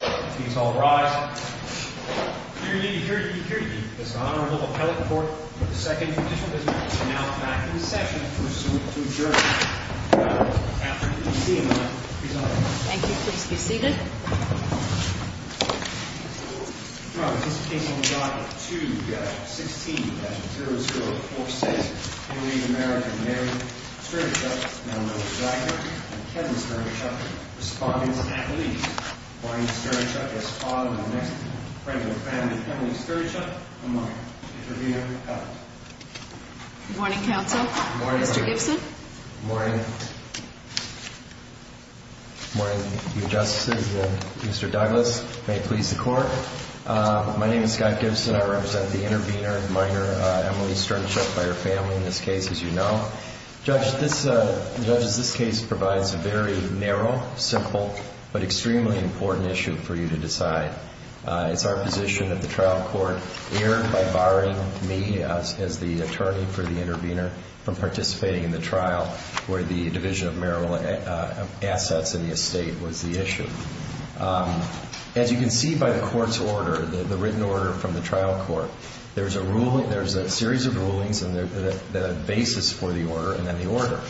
Please all rise. Hear ye, hear ye, hear ye. This honorable appellate court for the second petition has been announced back in the session pursuant to adjournment. Now, after you please be seated. Thank you, please be seated. The case on the docket 2-16-0046. Henry American married Stirnichuk, now known as Wagner and Kevin Stirnichuk, respondent and police. Morning, Stirnichuk. As father of the next friend and family, Henry Stirnichuk. Good morning. Intervener, appellate. Morning, counsel. Good morning. Mr. Gibson. Good morning. Good morning, your justices. Mr. Douglas, may it please the court. My name is Scott Gibson. I represent the intervener, minor Emily Stirnichuk, by her family in this case, as you know. Judge, this case provides a very narrow, simple, but extremely important issue for you to decide. It's our position that the trial court err by barring me as the attorney for the intervener from participating in the trial where the division of marital assets in the estate was the issue. As you can see by the court's order, the written order from the trial court, there's a series of rulings and the basis for the order and then the order.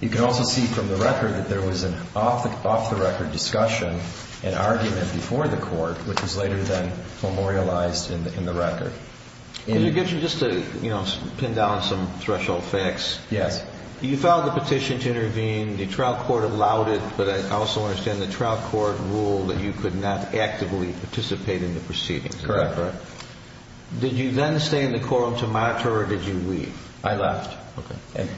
You can also see from the record that there was an off-the-record discussion and argument before the court, which was later then memorialized in the record. Mr. Gibson, just to pin down some threshold facts. Yes. You filed the petition to intervene, the trial court allowed it, but I also understand the trial court ruled that you could not actively participate in the proceedings. Correct. Did you then stay in the courtroom to monitor or did you leave? I left. Okay.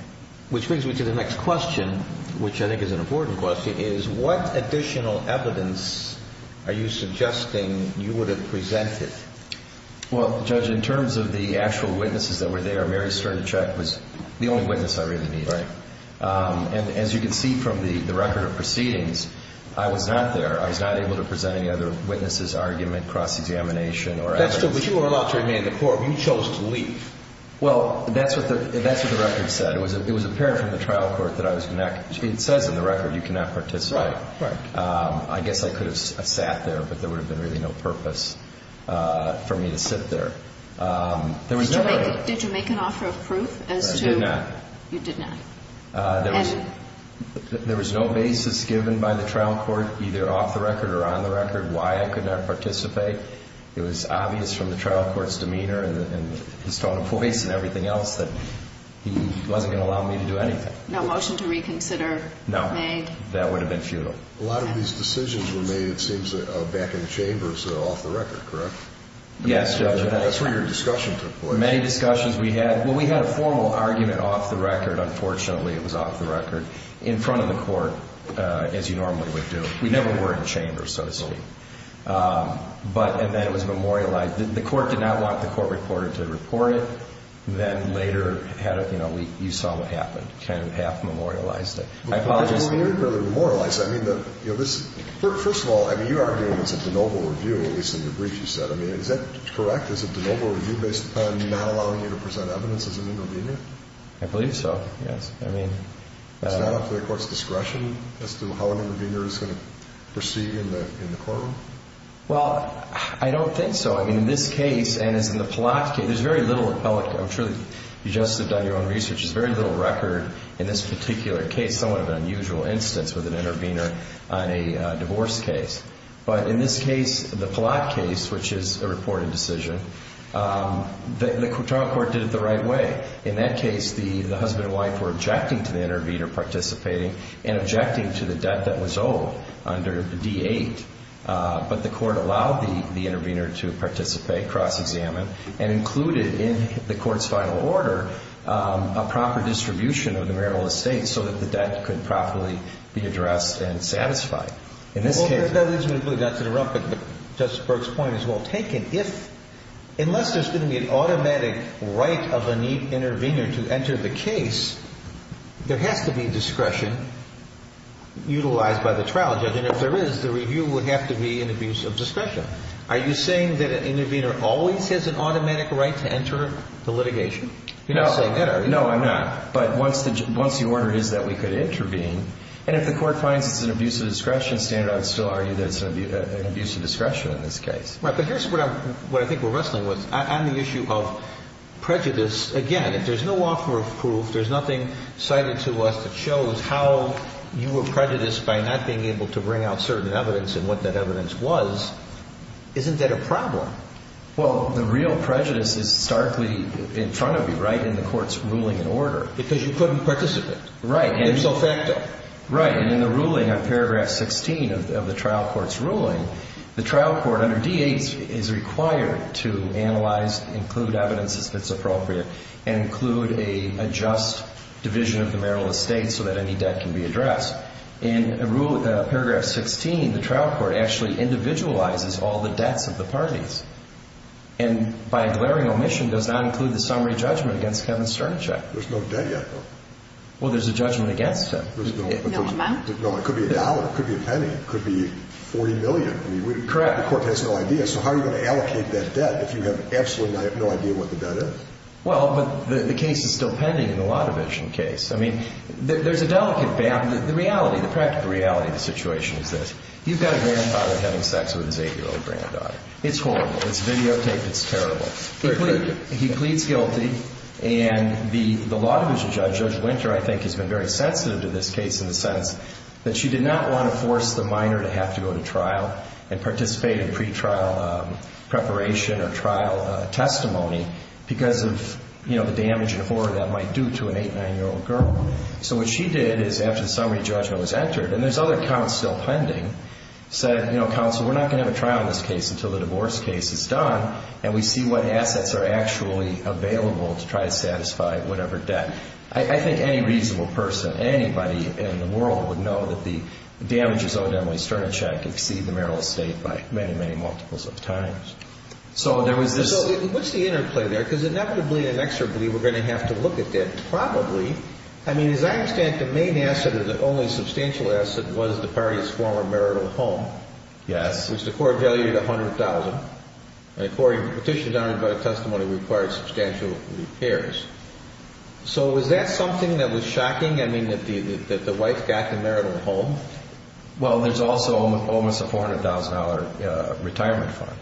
Which brings me to the next question, which I think is an important question, is what additional evidence are you suggesting you would have presented? Well, Judge, in terms of the actual witnesses that were there, Mary Sternachek was the only witness I really needed. Right. And as you can see from the record of proceedings, I was not there. I was not able to present any other witnesses, argument, cross-examination or evidence. That's true, but you were allowed to remain in the courtroom. You chose to leave. Well, that's what the record said. It was apparent from the trial court that it says in the record you cannot participate. Right. I guess I could have sat there, but there would have been really no purpose. for me to sit there. Did you make an offer of proof? I did not. You did not. There was no basis given by the trial court, either off the record or on the record, why I could not participate. It was obvious from the trial court's demeanor and his tone of voice and everything else that he wasn't going to allow me to do anything. No motion to reconsider made? No. That would have been futile. A lot of these decisions were made, it seems, back in the chambers off the record, correct? Yes, Judge. That's where your discussion took place. Many discussions we had. Well, we had a formal argument off the record. Unfortunately, it was off the record in front of the court, as you normally would do. We never were in chambers, so to speak. And then it was memorialized. The court did not want the court reporter to report it. Then later, you saw what happened, kind of half memorialized it. I apologize. First of all, you argued it was a de novo review, at least in the brief you said. Is that correct? Is it a de novo review based upon not allowing you to present evidence as an intervener? I believe so, yes. It's not up to the court's discretion as to how an intervener is going to proceed in the courtroom? Well, I don't think so. I mean, in this case, and as in the Palak case, there's very little appellate. I'm sure you just have done your own research. There's very little record in this particular case, somewhat of an unusual instance, with an intervener on a divorce case. But in this case, the Palak case, which is a reported decision, the court did it the right way. In that case, the husband and wife were objecting to the intervener participating and objecting to the debt that was owed under D-8. But the court allowed the intervener to participate, cross-examine, and included in the court's final order a proper distribution of the marital estate so that the debt could properly be addressed and satisfied. In this case. Well, that is really not to interrupt, but Justice Burke's point is well taken. Unless there's going to be an automatic right of an intervener to enter the case, there has to be discretion utilized by the trial judge. And if there is, the review would have to be an abuse of discretion. Are you saying that an intervener always has an automatic right to enter the litigation? You're not saying that, are you? No, I'm not. But once the order is that we could intervene, and if the court finds it's an abuse of discretion standard, I would still argue that it's an abuse of discretion in this case. Right. But here's what I think we're wrestling with. On the issue of prejudice, again, if there's no offer of proof, there's nothing cited to us that shows how you were prejudiced by not being able to bring out certain evidence and what that evidence was. Isn't that a problem? Well, the real prejudice is starkly in front of you, right, in the court's ruling and order. Because you couldn't participate. Right. It's so factual. Right. And in the ruling on paragraph 16 of the trial court's ruling, the trial court under D-8 is required to analyze, include evidence as fits appropriate, and include a just division of the marital estate so that any debt can be addressed. In paragraph 16, the trial court actually individualizes all the debts of the parties. And by a glaring omission does not include the summary judgment against Kevin Sternacek. There's no debt yet, though. Well, there's a judgment against him. No amount? No. It could be a dollar. It could be a penny. It could be $40 million. Correct. The court has no idea. So how are you going to allocate that debt if you have absolutely no idea what the debt is? Well, but the case is still pending in the Law Division case. I mean, there's a delicate balance. The reality, the practical reality of the situation is this. You've got a grandfather having sex with his 8-year-old granddaughter. It's horrible. It's videotaped. It's terrible. He pleads guilty, and the Law Division judge, Judge Winter, I think has been very sensitive to this case in the sense that she did not want to force the minor to have to go to trial and participate in pretrial preparation or trial testimony because of, you know, the damage and horror that might do to an 8-, 9-year-old girl. So what she did is, after the summary judgment was entered, and there's other counsel pending, said, you know, counsel, we're not going to have a trial in this case until the divorce case is done and we see what assets are actually available to try to satisfy whatever debt. I think any reasonable person, anybody in the world, would know that the damages owed Emily Sternecheck exceed the marital estate by many, many multiples of times. So there was this – So what's the interplay there? Because inevitably and inexorably we're going to have to look at that probably. I mean, as I understand it, the main asset, or the only substantial asset, was the party's former marital home. Yes. Which the court valued $100,000, and according to petitions honored by testimony, required substantial repairs. So was that something that was shocking, I mean, that the wife got the marital home? Well, there's also almost a $400,000 retirement fund.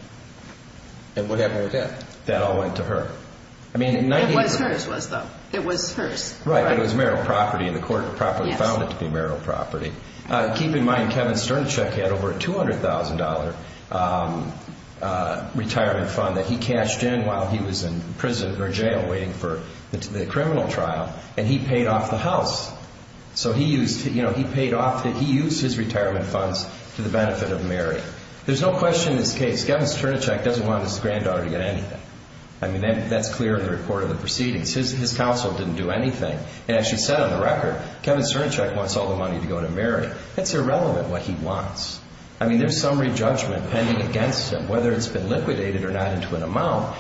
And what happened with that? That all went to her. It was hers, though. It was hers. Right, but it was marital property, and the court properly found it to be marital property. Keep in mind, Kevin Sternecheck had over a $200,000 retirement fund that he cashed in while he was in prison or jail waiting for the criminal trial, and he paid off the house. So he used his retirement funds for the benefit of Mary. There's no question in this case, Kevin Sternecheck doesn't want his granddaughter to get anything. I mean, that's clear in the report of the proceedings. His counsel didn't do anything. It actually said on the record, Kevin Sternecheck wants all the money to go to Mary. That's irrelevant what he wants. I mean, there's summary judgment pending against him, whether it's been liquidated or not into an amount.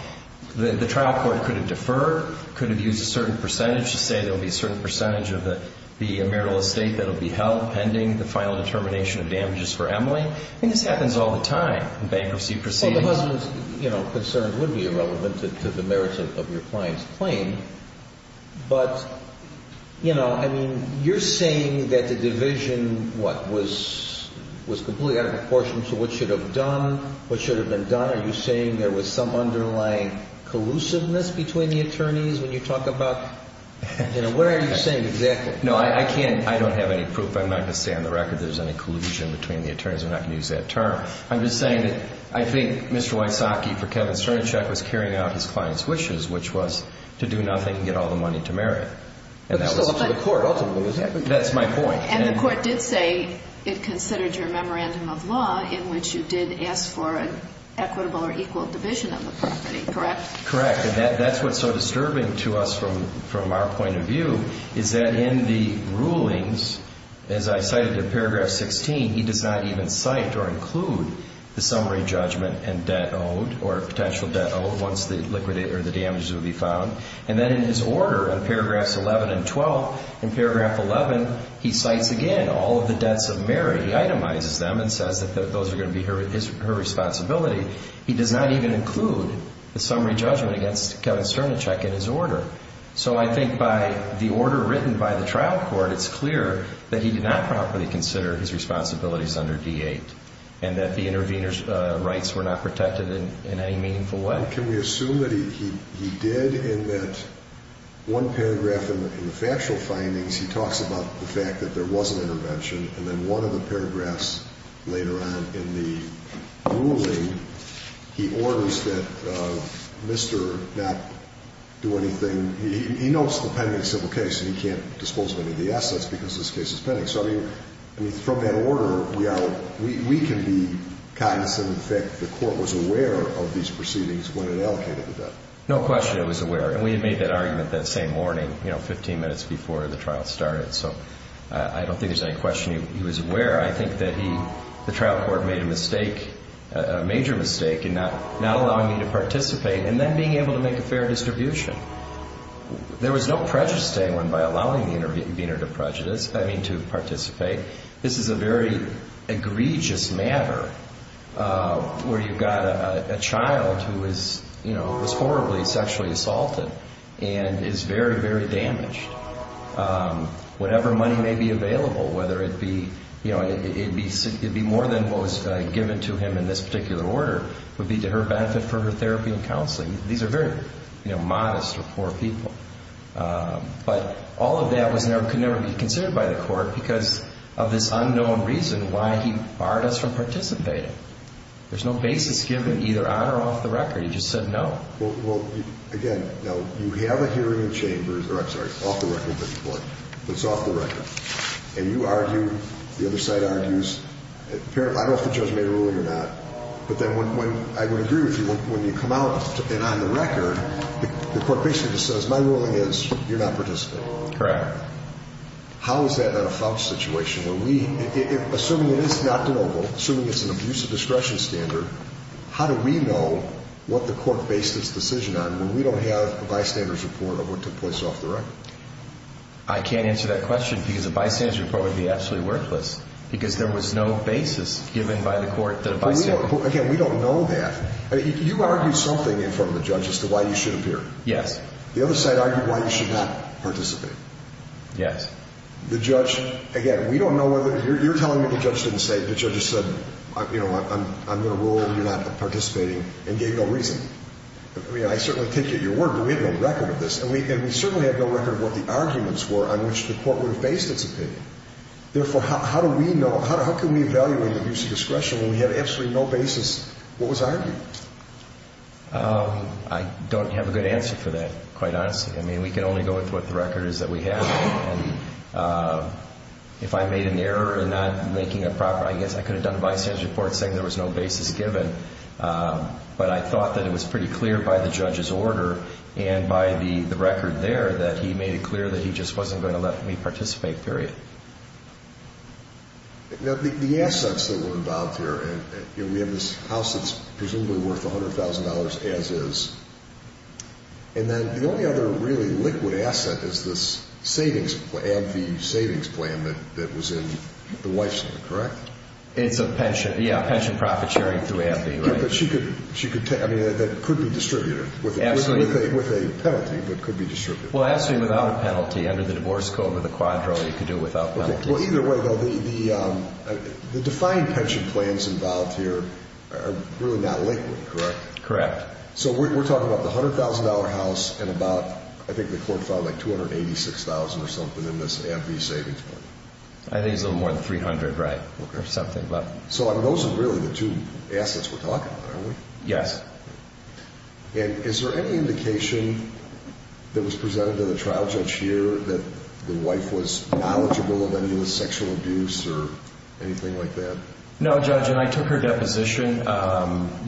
The trial court could have deferred, could have used a certain percentage to say there will be a certain percentage of the marital estate that will be held pending the final determination of damages for Emily. I mean, this happens all the time in bankruptcy proceedings. Well, the husband's concerns would be irrelevant to the merits of your client's claim. But, you know, I mean, you're saying that the division, what, was completely out of proportion to what should have been done. Are you saying there was some underlying collusiveness between the attorneys when you talk about, you know, what are you saying exactly? No, I can't. I don't have any proof. I'm not going to say on the record there's any collusion between the attorneys. I'm not going to use that term. I'm just saying that I think Mr. Wysocki, for Kevin Sternecheck, was carrying out his client's wishes, which was to do nothing and get all the money to Mary. But that was up to the court ultimately. That's my point. And the court did say it considered your memorandum of law in which you did ask for an equitable or equal division of the property, correct? Correct. And that's what's so disturbing to us from our point of view is that in the rulings, as I cited in paragraph 16, he does not even cite or include the summary judgment and debt owed or potential debt owed once the damages would be found. And then in his order in paragraphs 11 and 12, in paragraph 11, he cites again all of the debts of Mary. He itemizes them and says that those are going to be her responsibility. He does not even include the summary judgment against Kevin Sternecheck in his order. So I think by the order written by the trial court, it's clear that he did not properly consider his responsibilities under D-8 and that the intervener's rights were not protected in any meaningful way. Can we assume that he did and that one paragraph in the factual findings, he talks about the fact that there was an intervention, and then one of the paragraphs later on in the ruling, he orders that Mr. not do anything. He notes the pending civil case, and he can't dispose of any of the assets because this case is pending. So, I mean, from that order, we can be cognizant of the fact that the court was aware of these proceedings when it allocated the debt. No question it was aware, and we had made that argument that same morning, you know, 15 minutes before the trial started. So I don't think there's any question he was aware. I think that he, the trial court, made a mistake, a major mistake in not allowing me to participate and then being able to make a fair distribution. There was no prejudice to anyone by allowing the intervener to participate. This is a very egregious matter where you've got a child who was horribly sexually assaulted and is very, very damaged. Whatever money may be available, whether it be, you know, it'd be more than what was given to him in this particular order, would be to her benefit for her therapy and counseling. These are very, you know, modest or poor people. But all of that could never be considered by the court because of this unknown reason why he barred us from participating. There's no basis given either on or off the record. He just said no. Well, again, now, you have a hearing in chambers, or I'm sorry, off the record, but it's off the record. And you argue, the other side argues, I don't know if the judge made a ruling or not, but then when I would agree with you, when you come out and on the record, the court basically just says my ruling is you're not participating. Correct. How is that a false situation? Assuming it is not deliverable, assuming it's an abuse of discretion standard, how do we know what the court based its decision on when we don't have a bystander's report of what took place off the record? I can't answer that question because a bystander's report would be absolutely worthless because there was no basis given by the court that a bystander. Again, we don't know that. You argued something in front of the judge as to why you should appear. Yes. The other side argued why you should not participate. Yes. The judge, again, we don't know whether, you're telling me the judge didn't say, the judge just said, you know, I'm going to rule that you're not participating and gave no reason. I mean, I certainly take your word, but we have no record of this, and we certainly have no record of what the arguments were on which the court would have based its opinion. Therefore, how do we know, how can we evaluate abuse of discretion when we have absolutely no basis? What was argued? I don't have a good answer for that, quite honestly. I mean, we can only go with what the record is that we have, and if I made an error in not making a proper, I guess I could have done a bystander report saying there was no basis given, but I thought that it was pretty clear by the judge's order and by the record there that he made it clear that he just wasn't going to let me participate, period. Now, the assets that were involved here, we have this house that's presumably worth $100,000 as is, and then the only other really liquid asset is this savings plan, the AMFI savings plan that was in the wife's name, correct? It's a pension, yeah, pension profit sharing through AMFI, right? But she could take, I mean, that could be distributed with a penalty, but it could be distributed. Well, absolutely without a penalty under the divorce code with a quadro, you could do it without penalties. Well, either way, though, the defined pension plans involved here are really not liquid, correct? Correct. So we're talking about the $100,000 house and about, I think the court found, like $286,000 or something in this AMFI savings plan. I think it's a little more than $300,000, right, or something. So those are really the two assets we're talking about, aren't we? Yes. And is there any indication that was presented to the trial judge here that the wife was knowledgeable of any of the sexual abuse or anything like that? No, Judge, and I took her deposition,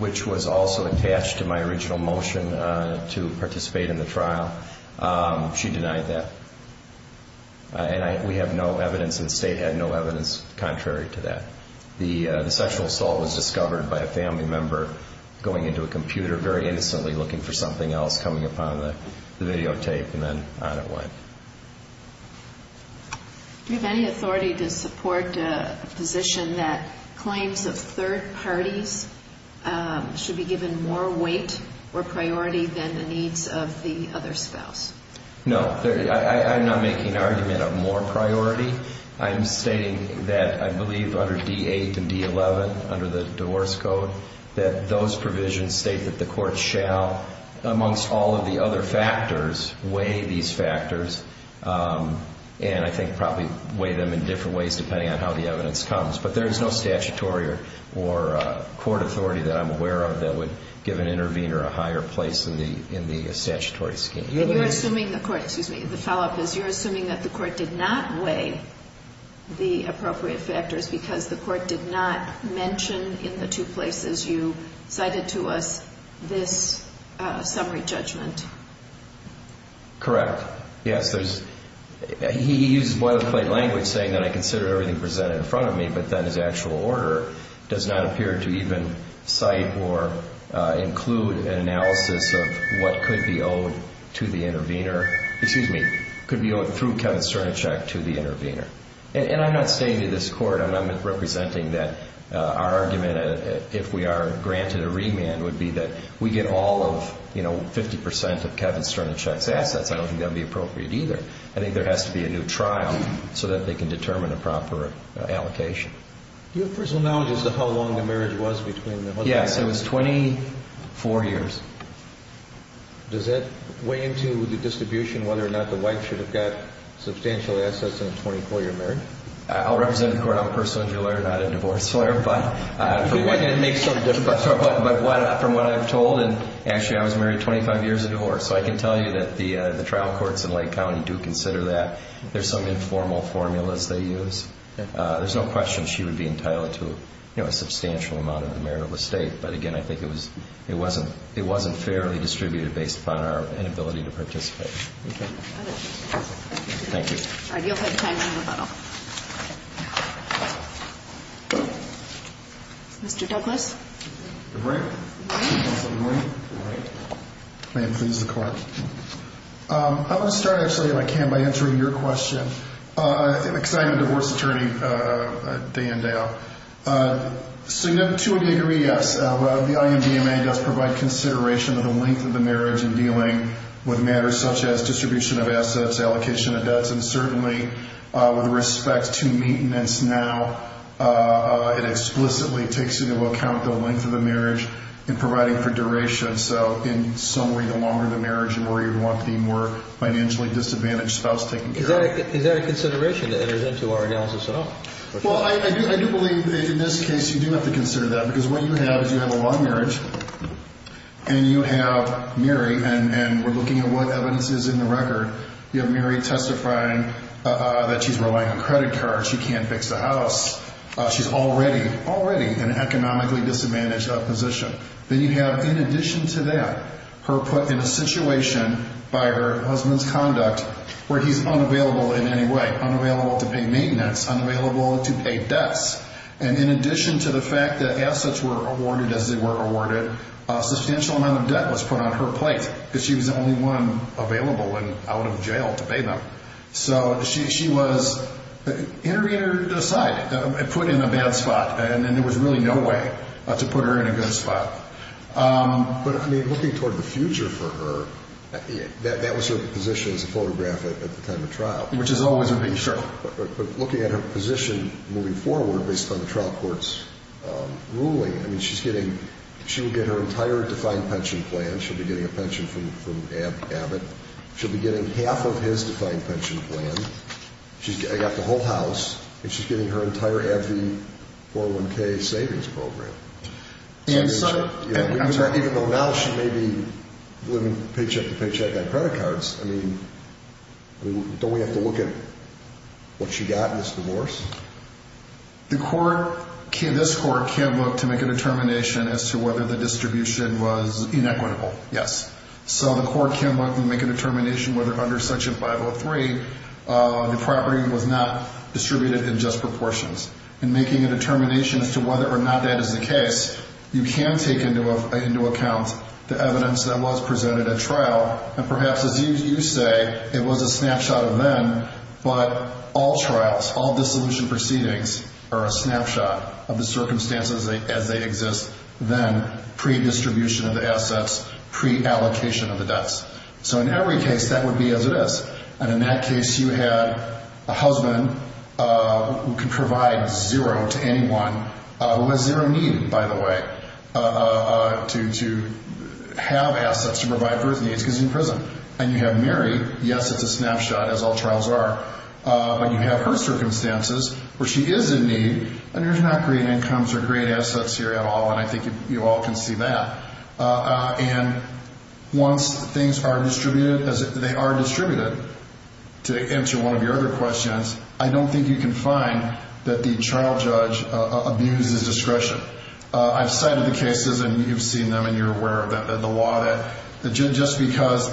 which was also attached to my original motion to participate in the trial. She denied that. And we have no evidence, and the state had no evidence contrary to that. The sexual assault was discovered by a family member going into a computer very innocently looking for something else, coming upon the videotape, and then on it went. Do you have any authority to support a position that claims of third parties should be given more weight or priority than the needs of the other spouse? No, I'm not making an argument of more priority. I'm stating that I believe under D-8 and D-11, under the divorce code, that those provisions state that the court shall, amongst all of the other factors, weigh these factors and I think probably weigh them in different ways depending on how the evidence comes. But there is no statutory or court authority that I'm aware of that would give an intervener a higher place in the statutory scheme. And you're assuming the court, excuse me, the follow-up is, you're assuming that the court did not weigh the appropriate factors because the court did not mention in the two places you cited to us in this summary judgment. Correct. Yes, he uses boilerplate language saying that I consider everything presented in front of me, but then his actual order does not appear to even cite or include an analysis of what could be owed to the intervener, excuse me, could be owed through Kevin Cernichek to the intervener. And I'm not stating to this court, I'm not representing that our argument, if we are granted a remand, would be that we get all of, you know, 50% of Kevin Cernichek's assets. I don't think that would be appropriate either. I think there has to be a new trial so that they can determine a proper allocation. Do you have personal knowledge as to how long the marriage was between them? Yes, it was 24 years. Does that weigh into the distribution whether or not the wife should have got substantial assets in a 24-year marriage? I'll represent the court. I'm a personal injury lawyer, not a divorce lawyer. It makes it sort of difficult. But from what I'm told, and actually I was married 25 years of divorce, so I can tell you that the trial courts in Lake County do consider that. There's some informal formulas they use. There's no question she would be entitled to, you know, a substantial amount of the merit of the state. But, again, I think it wasn't fairly distributed based upon our inability to participate. Thank you. All right. You'll have time for rebuttal. Mr. Douglas. Good morning. Good morning. May it please the Court. I want to start, actually, if I can, by answering your question. Because I'm a divorce attorney day in, day out. Significantly agree, yes, the INDMA does provide consideration of the length of the marriage in dealing with matters such as distribution of assets, allocation of debts, and certainly with respect to maintenance now, it explicitly takes into account the length of the marriage in providing for duration. So, in some way, the longer the marriage, the more you'd want the more financially disadvantaged spouse taking care of it. Is that a consideration that enters into our analysis at all? Well, I do believe in this case you do have to consider that. Because what you have is you have a long marriage, and you have Mary, and we're looking at what evidence is in the record, you have Mary testifying that she's relying on credit cards, she can't fix the house, she's already, already in an economically disadvantaged position. Then you have, in addition to that, her put in a situation by her husband's conduct where he's unavailable in any way, unavailable to pay maintenance, unavailable to pay debts. And in addition to the fact that assets were awarded as they were awarded, a substantial amount of debt was put on her plate, because she was the only one available and out of jail to pay them. So, she was interred aside, put in a bad spot, and there was really no way to put her in a good spot. But, I mean, looking toward the future for her, that was her position as a photograph at the time of trial. Which is always a big issue. But looking at her position moving forward, based on the trial court's ruling, I mean, she's getting, she will get her entire defined pension plan. She'll be getting a pension from Abbott. She'll be getting half of his defined pension plan. I got the whole house. And she's getting her entire AbbVie 401k savings program. Even though now she may be living paycheck to paycheck on credit cards, I mean, don't we have to look at what she got in this divorce? The court, this court, can look to make a determination as to whether the distribution was inequitable. Yes. So, the court can look and make a determination whether under Section 503, the property was not distributed in just proportions. In making a determination as to whether or not that is the case, you can take into account the evidence that was presented at trial, and perhaps as you say, it was a snapshot of then, but all trials, all dissolution proceedings are a snapshot of the circumstances as they exist then, pre-distribution of the assets, pre-allocation of the debts. So, in every case, that would be as it is. And in that case, you had a husband who can provide zero to anyone, who has zero need, by the way, to have assets to provide for his needs, because he's in prison. And you have Mary. Yes, it's a snapshot, as all trials are. But you have her circumstances, where she is in need, and there's not great incomes or great assets here at all, and I think you all can see that. And once things are distributed, as they are distributed, to answer one of your other questions, I don't think you can find that the trial judge abuses discretion. I've cited the cases, and you've seen them, and you're aware of them, the law that just because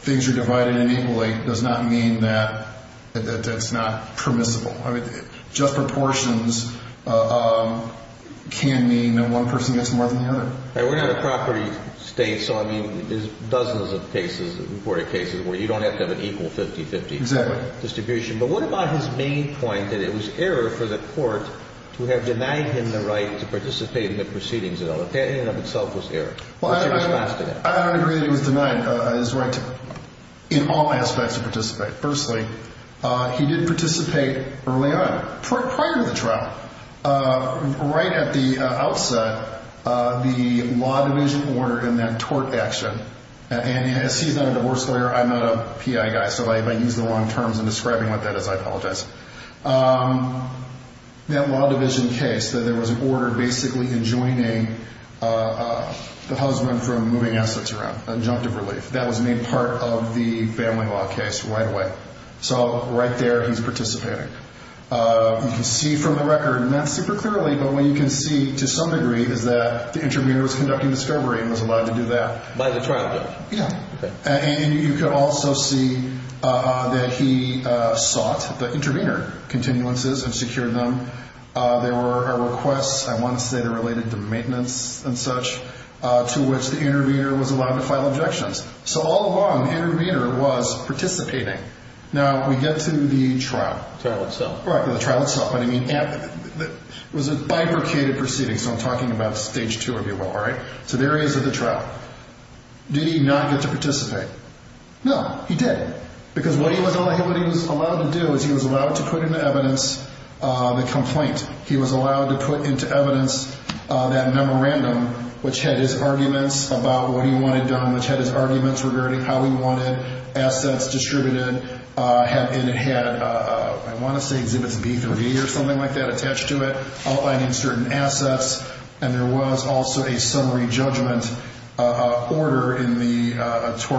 things are divided in equally does not mean that it's not permissible. I mean, just proportions can mean that one person gets more than the other. We're not a property state, so, I mean, there's dozens of cases, reported cases where you don't have to have an equal 50-50 distribution. Exactly. But what about his main point, that it was error for the court to have denied him the right to participate in the proceedings at all? That in and of itself was error. What's your response to that? I don't agree that he was denied his right in all aspects to participate. Firstly, he did participate early on, prior to the trial. Right at the outset, the law division ordered in that tort action, and as he's not a divorce lawyer, I'm not a PI guy, so if I use the long terms in describing what that is, I apologize. That law division case, that there was an order basically enjoining the husband from moving assets around, injunctive relief. That was made part of the family law case right away. So right there, he's participating. You can see from the record, not super clearly, but what you can see to some degree is that the intervener was conducting discovery and was allowed to do that. By the trial judge. Yeah. And you can also see that he sought the intervener continuances and secured them. There were requests, I want to say they're related to maintenance and such, to which the intervener was allowed to file objections. So all along, the intervener was participating. Now, we get to the trial. Trial itself. The trial itself. It was a bifurcated proceeding, so I'm talking about stage two, if you will. So there he is at the trial. Did he not get to participate? No, he did. Because what he was allowed to do is he was allowed to put into evidence the complaint. He was allowed to put into evidence that memorandum, which had his arguments about what he wanted done, which had his arguments regarding how he wanted assets distributed. And it had, I want to say exhibits B3 or something like that attached to it, outlining certain assets. And there was also a summary judgment order in the tort.